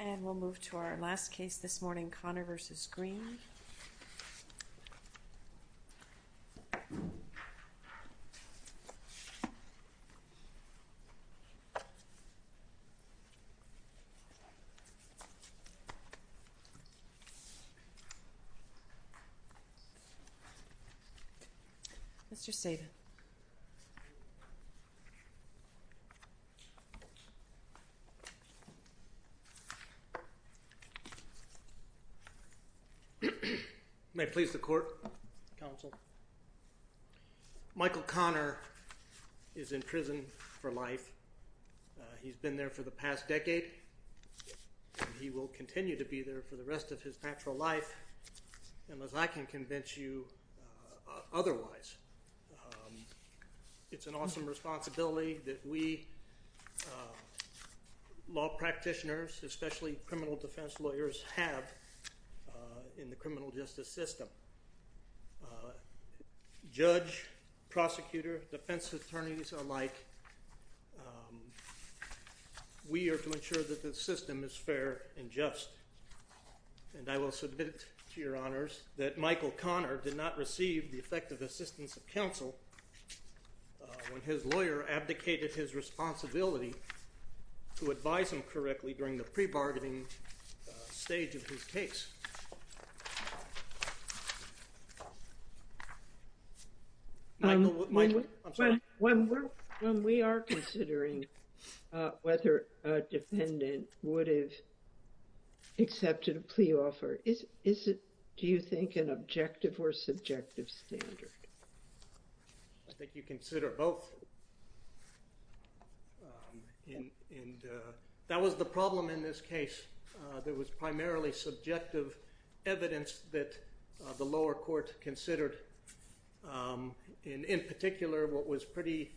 And we'll move to our last case this morning, Connor v. Greene. Mr. Sabin. May it please the court, counsel. Michael Connor is in prison for life. He's been there for the past decade. He will continue to be there for the rest of his natural life, unless I can convince you otherwise. It's an awesome responsibility that we law practitioners, especially criminal defense lawyers, have in the criminal justice system. Judge, prosecutor, defense attorneys alike, we are to ensure that the system is fair and just. And I will submit to your honors that Michael Connor did not receive the effective assistance of counsel when his lawyer abdicated his responsibility to advise him correctly during the pre-bargaining stage of his case. When we are considering whether a defendant would have accepted a plea offer, is it, do you think, an objective or subjective standard? I think you consider both. That was the problem in this case. There was primarily subjective evidence that the lower court considered. In particular, what was pretty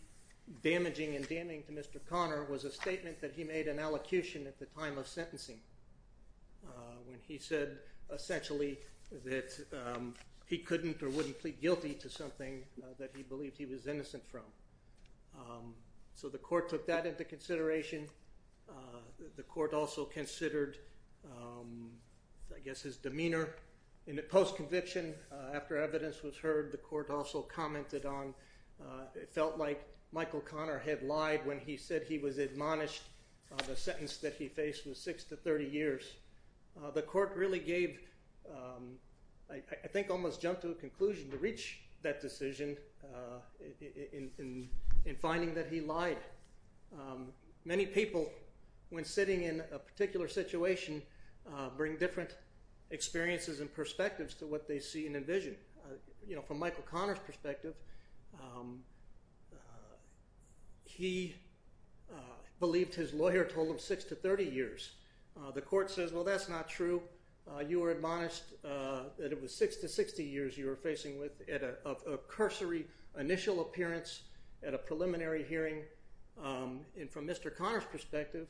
damaging and damning to Mr. Connor was a statement that he made in allocution at the time of sentencing when he said essentially that he couldn't or wouldn't plead guilty to something that he believed he was innocent from. So the court took that into consideration. The court also considered, I guess, his demeanor. In the post-conviction, after evidence was heard, the court also commented on, it felt like Michael Connor had lied when he said he was admonished. The sentence that he faced was six to 30 years. The court really gave, I think, almost jumped to a conclusion to reach that decision in finding that he lied. Many people, when sitting in a particular situation, bring different experiences and perspectives to what they see and envision. From Michael Connor's perspective, he believed his lawyer told him six to 30 years. The court says, well, that's not true. You were admonished that it was six to 60 years you were facing with a cursory initial appearance at a preliminary hearing. And from Mr. Connor's perspective,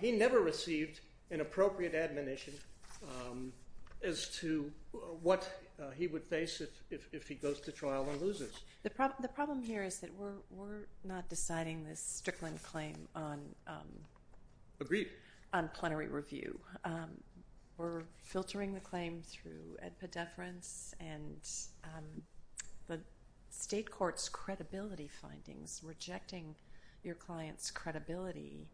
he never received an appropriate admonition as to what he would face if he goes to trial and loses. The problem here is that we're not deciding this Strickland claim on plenary review. We're filtering the claim through ed pedeference and the state court's credibility findings, rejecting your client's credibility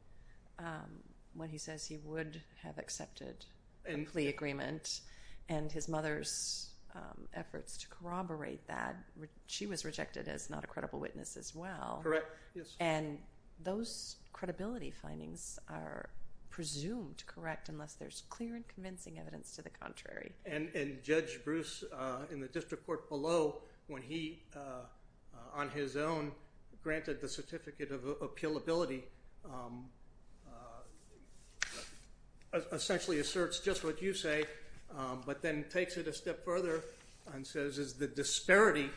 when he says he would have accepted a plea agreement and his mother's efforts to corroborate that. She was rejected as not a credible witness as well. Correct, yes. And those credibility findings are presumed correct unless there's clear and convincing evidence to the contrary. And Judge Bruce in the district court below, when he, on his own, granted the certificate of appealability, essentially asserts just what you say, but then takes it a step further and says, is the disparity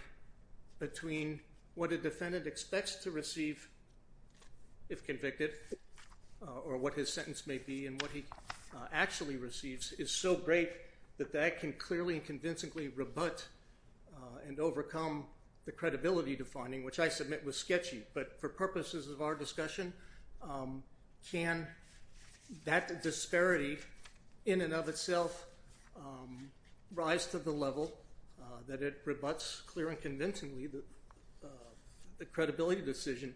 between what a defendant expects to receive if convicted or what his sentence may be and what he actually receives is so great that that can clearly and convincingly rebut and overcome the credibility defining, which I submit was sketchy. But for purposes of our discussion, can that disparity in and of itself rise to the level that it rebuts clear and convincingly the credibility decision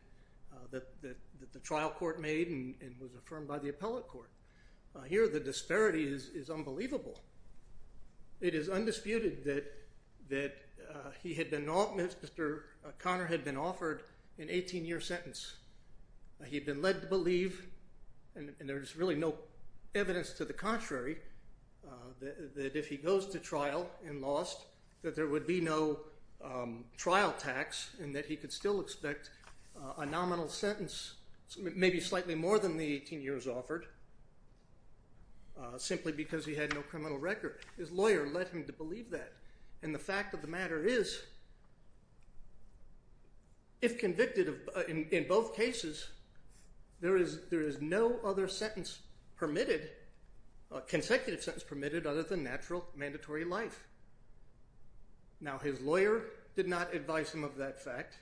that the trial court made and was affirmed by the appellate court? Here the disparity is unbelievable. It is undisputed that Mr. Conner had been offered an 18-year sentence. He had been led to believe, and there's really no evidence to the contrary, that if he goes to trial and lost, that there would be no trial tax and that he could still expect a nominal sentence, maybe slightly more than the 18 years offered, simply because he had no criminal record. His lawyer led him to believe that, and the fact of the matter is, if convicted in both cases, there is no other sentence permitted, consecutive sentence permitted, other than natural mandatory life. Now, his lawyer did not advise him of that fact.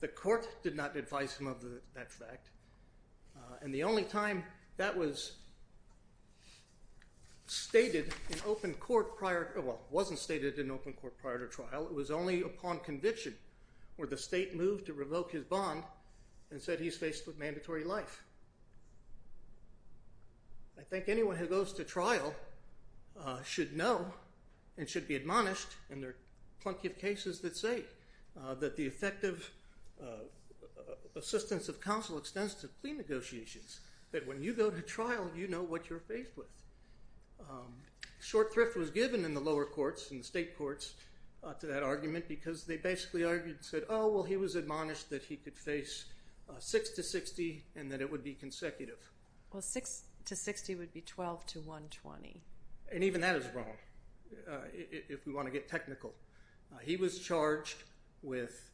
The court did not advise him of that fact, and the only time that was stated in open court prior – well, it wasn't stated in open court prior to trial. It was only upon conviction where the state moved to revoke his bond and said he's faced with mandatory life. I think anyone who goes to trial should know and should be admonished, and there are plenty of cases that say that the effective assistance of counsel extends to plea negotiations, that when you go to trial, you know what you're faced with. Short thrift was given in the lower courts, in the state courts, to that argument because they basically argued and said, well, he was admonished that he could face 6 to 60 and that it would be consecutive. Well, 6 to 60 would be 12 to 120. And even that is wrong, if we want to get technical. He was charged with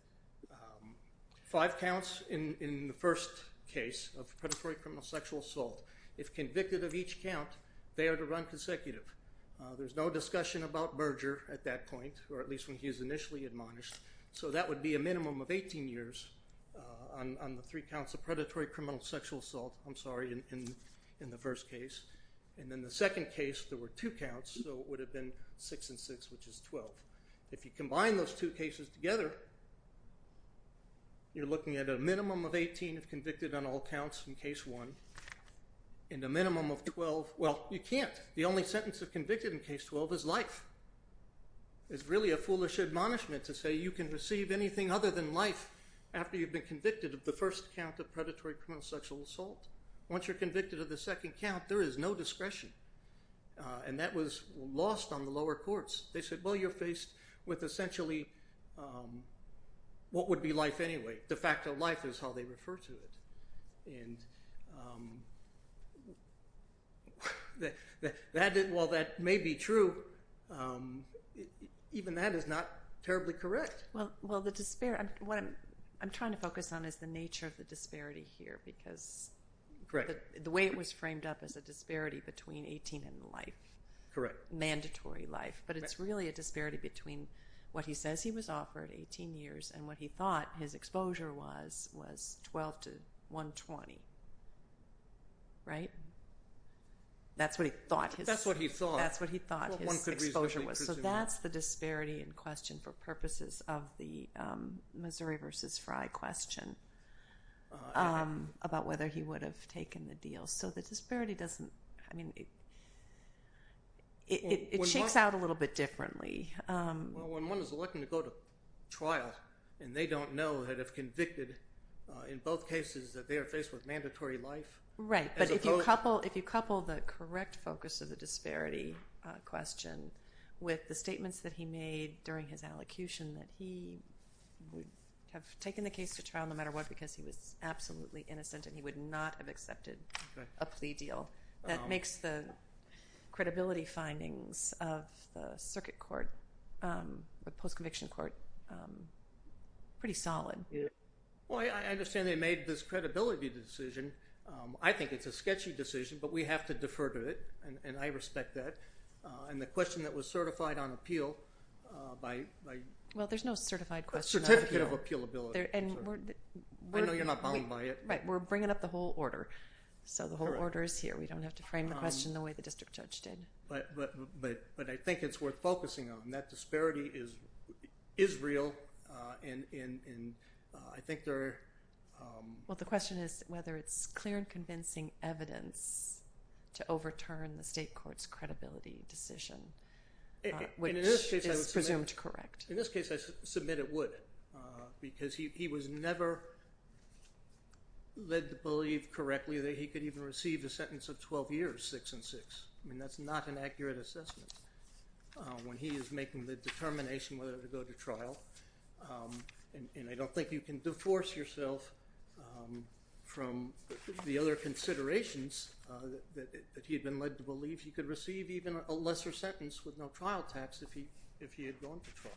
five counts in the first case of predatory criminal sexual assault. If convicted of each count, they are to run consecutive. There's no discussion about merger at that point, or at least when he was initially admonished, so that would be a minimum of 18 years on the three counts of predatory criminal sexual assault, I'm sorry, in the first case. And in the second case, there were two counts, so it would have been 6 and 6, which is 12. If you combine those two cases together, you're looking at a minimum of 18 if convicted on all counts in case one, and a minimum of 12, well, you can't. The only sentence of convicted in case 12 is life. It's really a foolish admonishment to say you can receive anything other than life after you've been convicted of the first count of predatory criminal sexual assault. Once you're convicted of the second count, there is no discretion, and that was lost on the lower courts. They said, well, you're faced with essentially what would be life anyway. De facto life is how they refer to it. And while that may be true, even that is not terribly correct. Well, what I'm trying to focus on is the nature of the disparity here because the way it was framed up as a disparity between 18 and life, mandatory life, but it's really a disparity between what he says he was offered, 18 years, and what he thought his exposure was, was 12 to 120, right? That's what he thought his exposure was. So that's the disparity in question for purposes of the Missouri versus Fry question about whether he would have taken the deal. So the disparity doesn't – I mean, it shakes out a little bit differently. Well, when one is elected to go to trial and they don't know that if convicted in both cases that they are faced with mandatory life. Right, but if you couple the correct focus of the disparity question with the statements that he made during his allocution that he would have taken the case to trial no matter what because he was absolutely innocent and he would not have accepted a plea deal, that makes the credibility findings of the circuit court, the post-conviction court, pretty solid. Well, I understand they made this credibility decision. I think it's a sketchy decision, but we have to defer to it, and I respect that. And the question that was certified on appeal by – Well, there's no certified question on appeal. A certificate of appealability. I know you're not bound by it. Right, we're bringing up the whole order, so the whole order is here. We don't have to frame the question the way the district judge did. But I think it's worth focusing on. That disparity is real, and I think there are – Well, the question is whether it's clear and convincing evidence to overturn the state court's credibility decision, which is presumed correct. In this case, I submit it would because he was never led to believe correctly that he could even receive a sentence of 12 years, 6 and 6. I mean, that's not an accurate assessment when he is making the determination whether to go to trial. And I don't think you can deforce yourself from the other considerations that he had been led to believe. He could receive even a lesser sentence with no trial tax if he had gone to trial.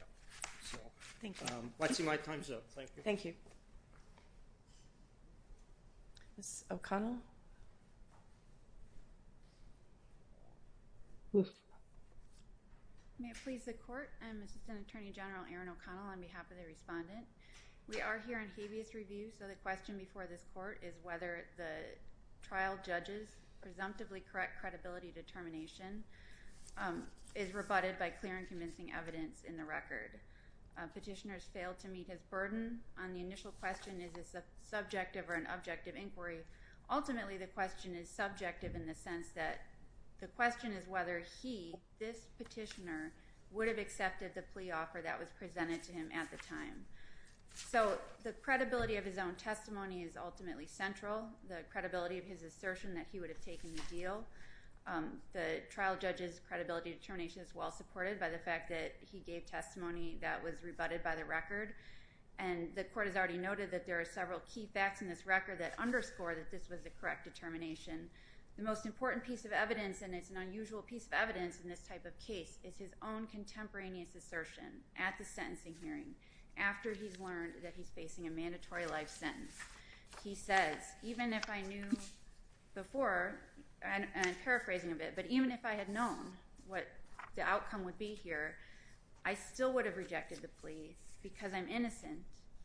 Thank you. Let's see my time's up. Thank you. Thank you. Ms. O'Connell? May it please the Court? I'm Assistant Attorney General Erin O'Connell on behalf of the respondent. We are here in habeas review, so the question before this Court is whether the trial judge's presumptively correct credibility determination is rebutted by clear and convincing evidence in the record. Petitioner has failed to meet his burden. On the initial question, is this a subjective or an objective inquiry? Ultimately, the question is subjective in the sense that the question is whether he, this petitioner, would have accepted the plea offer that was presented to him at the time. So the credibility of his own testimony is ultimately central, the credibility of his assertion that he would have taken the deal. The trial judge's credibility determination is well supported by the fact that he gave testimony that was rebutted by the record. And the Court has already noted that there are several key facts in this record that underscore that this was the correct determination. The most important piece of evidence, and it's an unusual piece of evidence in this type of case, is his own contemporaneous assertion at the sentencing hearing after he's learned that he's facing a mandatory life sentence. He says, even if I knew before, and I'm paraphrasing a bit, but even if I had known what the outcome would be here, I still would have rejected the plea because I'm innocent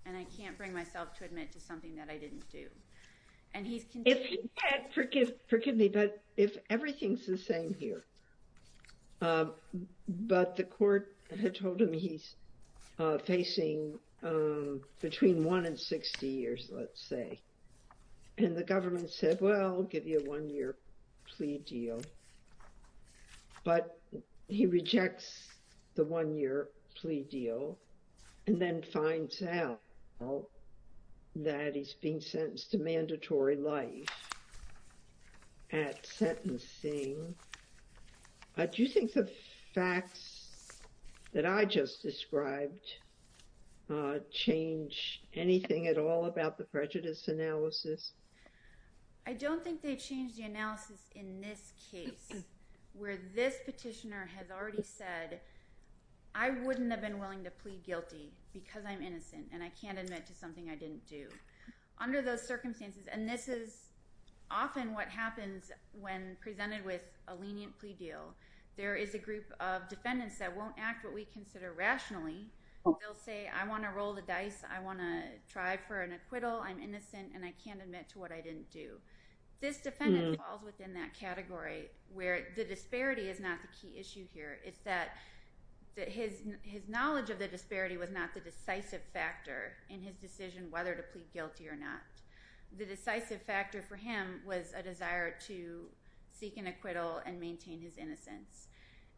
and I can't bring myself to admit to something that I didn't do. Forgive me, but if everything's the same here, but the Court had told him he's facing between one and 60 years, let's say, and the government said, well, I'll give you a one-year plea deal. But he rejects the one-year plea deal and then finds out that he's being sentenced to mandatory life at sentencing. Do you think the facts that I just described change anything at all about the prejudice analysis? I don't think they change the analysis in this case, where this petitioner has already said, I wouldn't have been willing to plead guilty because I'm innocent and I can't admit to something I didn't do. Under those circumstances, and this is often what happens when presented with a lenient plea deal, there is a group of defendants that won't act what we consider rationally. They'll say, I want to roll the dice. I want to try for an acquittal. I'm innocent and I can't admit to what I didn't do. This defendant falls within that category where the disparity is not the key issue here. It's that his knowledge of the disparity was not the decisive factor in his decision whether to plead guilty or not. The decisive factor for him was a desire to seek an acquittal and maintain his innocence.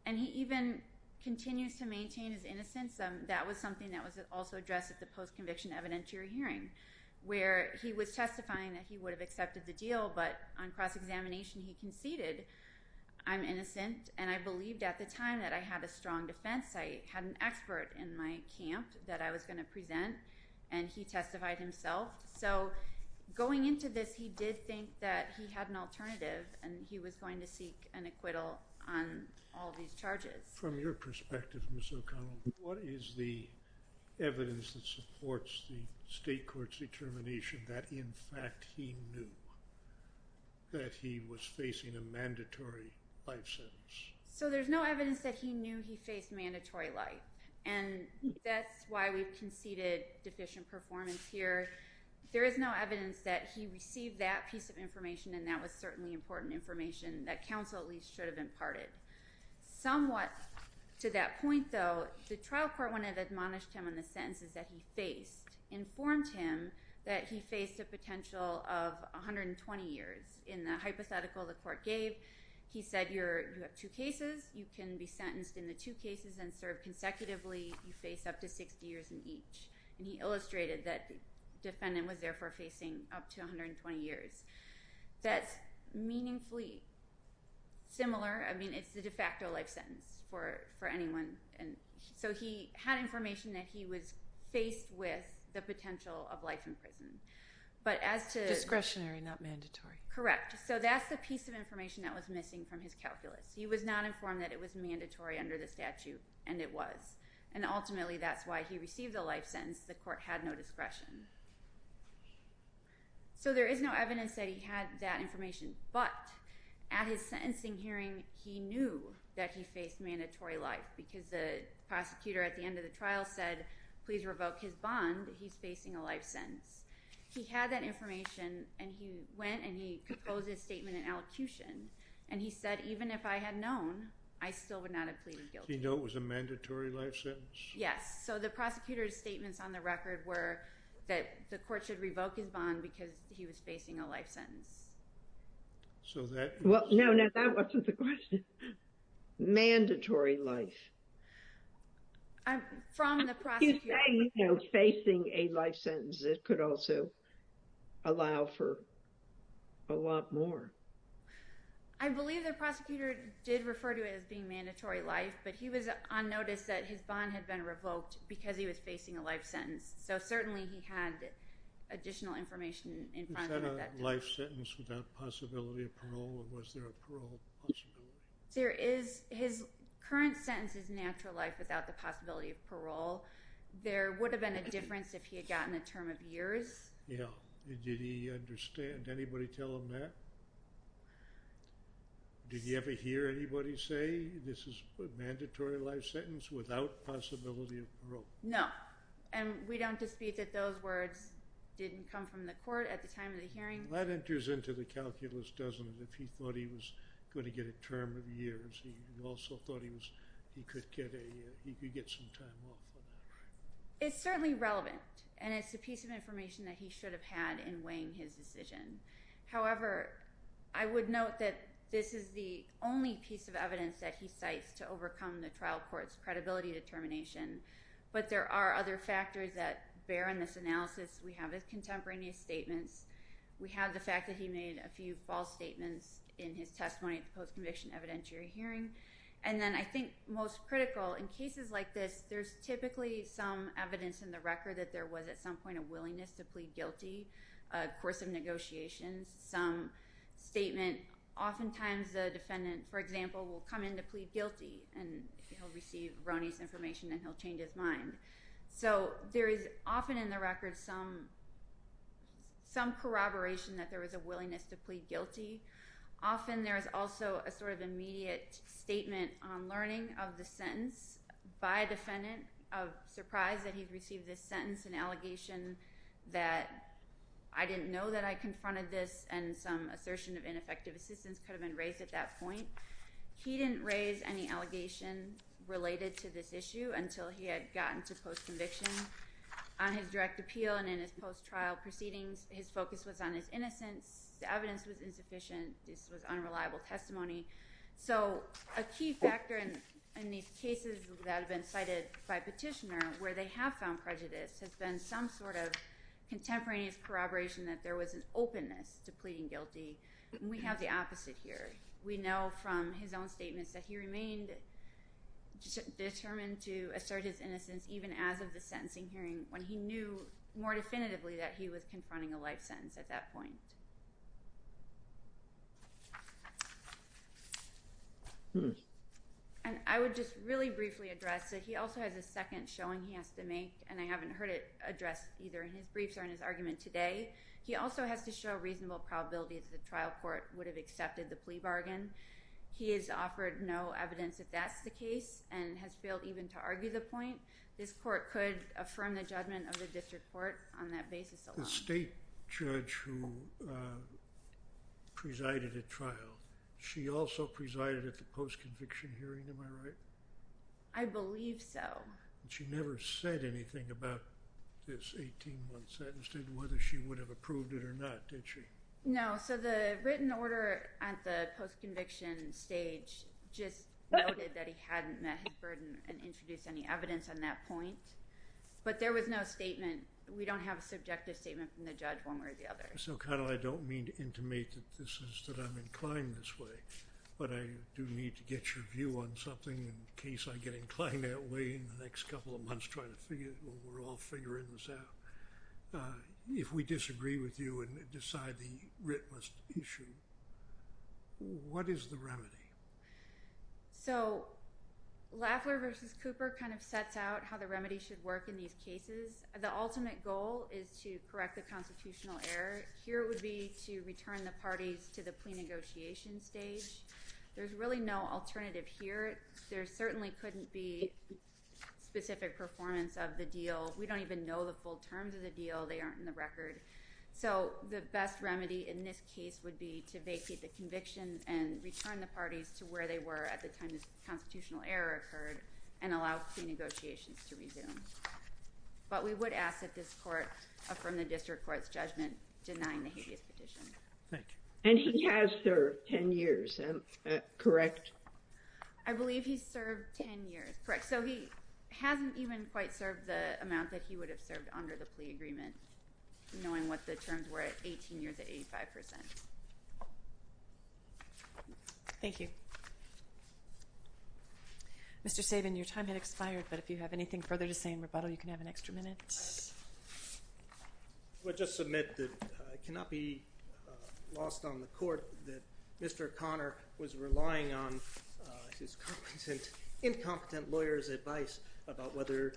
And he even continues to maintain his innocence. That was something that was also addressed at the post-conviction evidentiary hearing, where he was testifying that he would have accepted the deal, but on cross-examination he conceded, I'm innocent, and I believed at the time that I had a strong defense. I had an expert in my camp that I was going to present, and he testified himself. So going into this, he did think that he had an alternative and he was going to seek an acquittal on all these charges. From your perspective, Ms. O'Connell, what is the evidence that supports the state court's determination that in fact he knew that he was facing a mandatory life sentence? So there's no evidence that he knew he faced mandatory life. And that's why we've conceded deficient performance here. There is no evidence that he received that piece of information, and that was certainly important information that counsel at least should have imparted. Somewhat to that point, though, the trial court, when it admonished him on the sentences that he faced, informed him that he faced a potential of 120 years. In the hypothetical the court gave, he said you have two cases. You can be sentenced in the two cases and served consecutively. You face up to 60 years in each. And he illustrated that the defendant was therefore facing up to 120 years. That's meaningfully similar. I mean, it's the de facto life sentence for anyone. And so he had information that he was faced with the potential of life in prison. But as to— Discretionary, not mandatory. Correct. So that's the piece of information that was missing from his calculus. He was not informed that it was mandatory under the statute, and it was. And ultimately, that's why he received the life sentence. The court had no discretion. So there is no evidence that he had that information. But at his sentencing hearing, he knew that he faced mandatory life because the prosecutor at the end of the trial said, please revoke his bond. He's facing a life sentence. He had that information, and he went and he proposed his statement in allocution. And he said, even if I had known, I still would not have pleaded guilty. Did he know it was a mandatory life sentence? Yes. So the prosecutor's statements on the record were that the court should revoke his bond because he was facing a life sentence. So that— Well, no, no. That wasn't the question. Mandatory life. From the prosecutor— When you say facing a life sentence, it could also allow for a lot more. I believe the prosecutor did refer to it as being mandatory life, but he was on notice that his bond had been revoked because he was facing a life sentence. So certainly he had additional information in front of him at that time. Was that a life sentence without possibility of parole, or was there a parole possibility? There is—his current sentence is natural life without the possibility of parole. There would have been a difference if he had gotten a term of years. Yeah. Did he understand? Anybody tell him that? Did he ever hear anybody say this is a mandatory life sentence without possibility of parole? No. And we don't dispute that those words didn't come from the court at the time of the hearing. That enters into the calculus, doesn't it, if he thought he was going to get a term of years. He also thought he could get some time off. It's certainly relevant, and it's a piece of information that he should have had in weighing his decision. However, I would note that this is the only piece of evidence that he cites to overcome the trial court's credibility determination, but there are other factors that bear in this analysis. We have his contemporaneous statements. We have the fact that he made a few false statements in his testimony at the post-conviction evidentiary hearing. And then I think most critical, in cases like this, there's typically some evidence in the record that there was at some point a willingness to plead guilty, a course of negotiations, some statement. Oftentimes the defendant, for example, will come in to plead guilty, and he'll receive Roni's information, and he'll change his mind. So there is often in the record some corroboration that there was a willingness to plead guilty. Often there is also a sort of immediate statement on learning of the sentence by a defendant of surprise that he'd received this sentence, an allegation that I didn't know that I confronted this, and some assertion of ineffective assistance could have been raised at that point. He didn't raise any allegation related to this issue until he had gotten to post-conviction. On his direct appeal and in his post-trial proceedings, his focus was on his innocence. The evidence was insufficient. This was unreliable testimony. So a key factor in these cases that have been cited by petitioner where they have found prejudice has been some sort of contemporaneous corroboration that there was an openness to pleading guilty, and we have the opposite here. We know from his own statements that he remained determined to assert his innocence even as of the sentencing hearing when he knew more definitively that he was confronting a life sentence at that point. And I would just really briefly address that he also has a second showing he has to make, and I haven't heard it addressed either in his briefs or in his argument today. He also has to show reasonable probability that the trial court would have accepted the plea bargain. He has offered no evidence that that's the case and has failed even to argue the point. This court could affirm the judgment of the district court on that basis alone. The state judge who presided at trial, she also presided at the post-conviction hearing, am I right? I believe so. She never said anything about this 18-month sentence, whether she would have approved it or not, did she? No, so the written order at the post-conviction stage just noted that he hadn't met his burden and introduced any evidence on that point, but there was no statement. We don't have a subjective statement from the judge one way or the other. So I don't mean to intimate that I'm inclined this way, but I do need to get your view on something in case I get inclined that way in the next couple of months when we're all figuring this out. If we disagree with you and decide the writ must issue, what is the remedy? So Lafleur v. Cooper kind of sets out how the remedy should work in these cases. The ultimate goal is to correct the constitutional error. Here it would be to return the parties to the plea negotiation stage. There's really no alternative here. There certainly couldn't be specific performance of the deal. We don't even know the full terms of the deal. They aren't in the record. So the best remedy in this case would be to vacate the conviction and return the parties to where they were at the time this constitutional error occurred and allow plea negotiations to resume. But we would ask that this court affirm the district court's judgment denying the habeas petition. Thank you. And he has served 10 years, correct? I believe he's served 10 years, correct. So he hasn't even quite served the amount that he would have served under the plea agreement, knowing what the terms were at 18 years at 85%. Thank you. Mr. Sabin, your time has expired, but if you have anything further to say in rebuttal, you can have an extra minute. I would just submit that it cannot be lost on the court that Mr. Connor was relying on his incompetent lawyer's advice about whether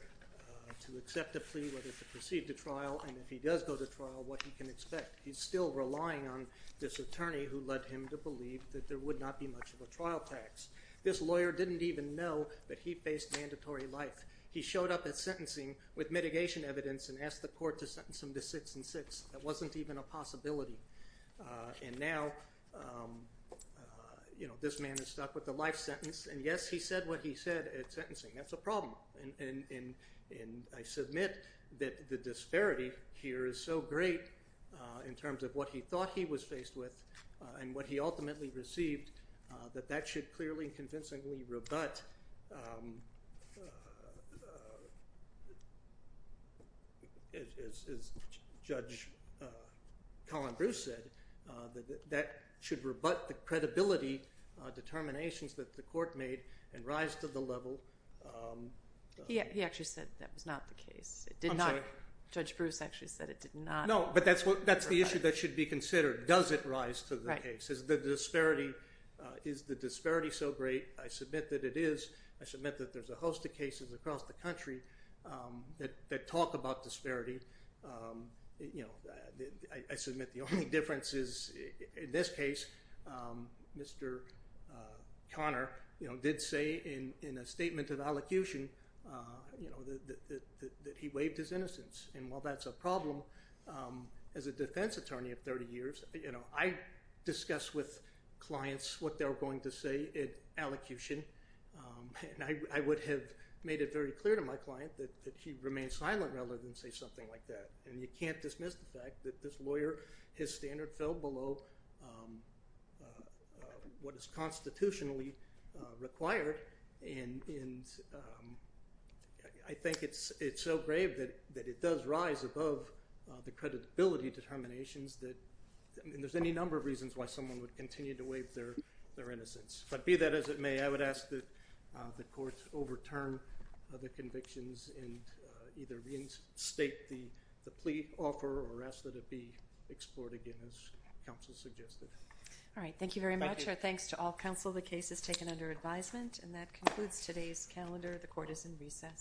to accept a plea, whether to proceed to trial, and if he does go to trial, what he can expect. He's still relying on this attorney who led him to believe that there would not be much of a trial tax. This lawyer didn't even know that he faced mandatory life. He showed up at sentencing with mitigation evidence and asked the court to sentence him to six and six. That wasn't even a possibility. And now this man is stuck with a life sentence. And yes, he said what he said at sentencing. That's a problem. And I submit that the disparity here is so great in terms of what he thought he was faced with and what he ultimately received, that that should clearly and convincingly rebut, as Judge Colin Bruce said, that should rebut the credibility determinations that the court made and rise to the level. He actually said that was not the case. It did not. Judge Bruce actually said it did not. No, but that's the issue that should be considered. Does it rise to the case? Is the disparity so great? I submit that it is. I submit that there's a host of cases across the country that talk about disparity. I submit the only difference is, in this case, Mr. Conner did say in a statement of allocution that he waived his innocence. And while that's a problem, as a defense attorney of 30 years, I discuss with clients what they're going to say in allocution. And I would have made it very clear to my client that he remained silent rather than say something like that. And you can't dismiss the fact that this lawyer, his standard fell below what is constitutionally required. And I think it's so grave that it does rise above the credibility determinations that there's any number of reasons why someone would continue to waive their innocence. But be that as it may, I would ask that the courts overturn the convictions and either reinstate the plea offer or ask that it be explored again, as counsel suggested. All right. Thank you very much. Our thanks to all counsel. The case is taken under advisement. And that concludes today's calendar. The court is in recess.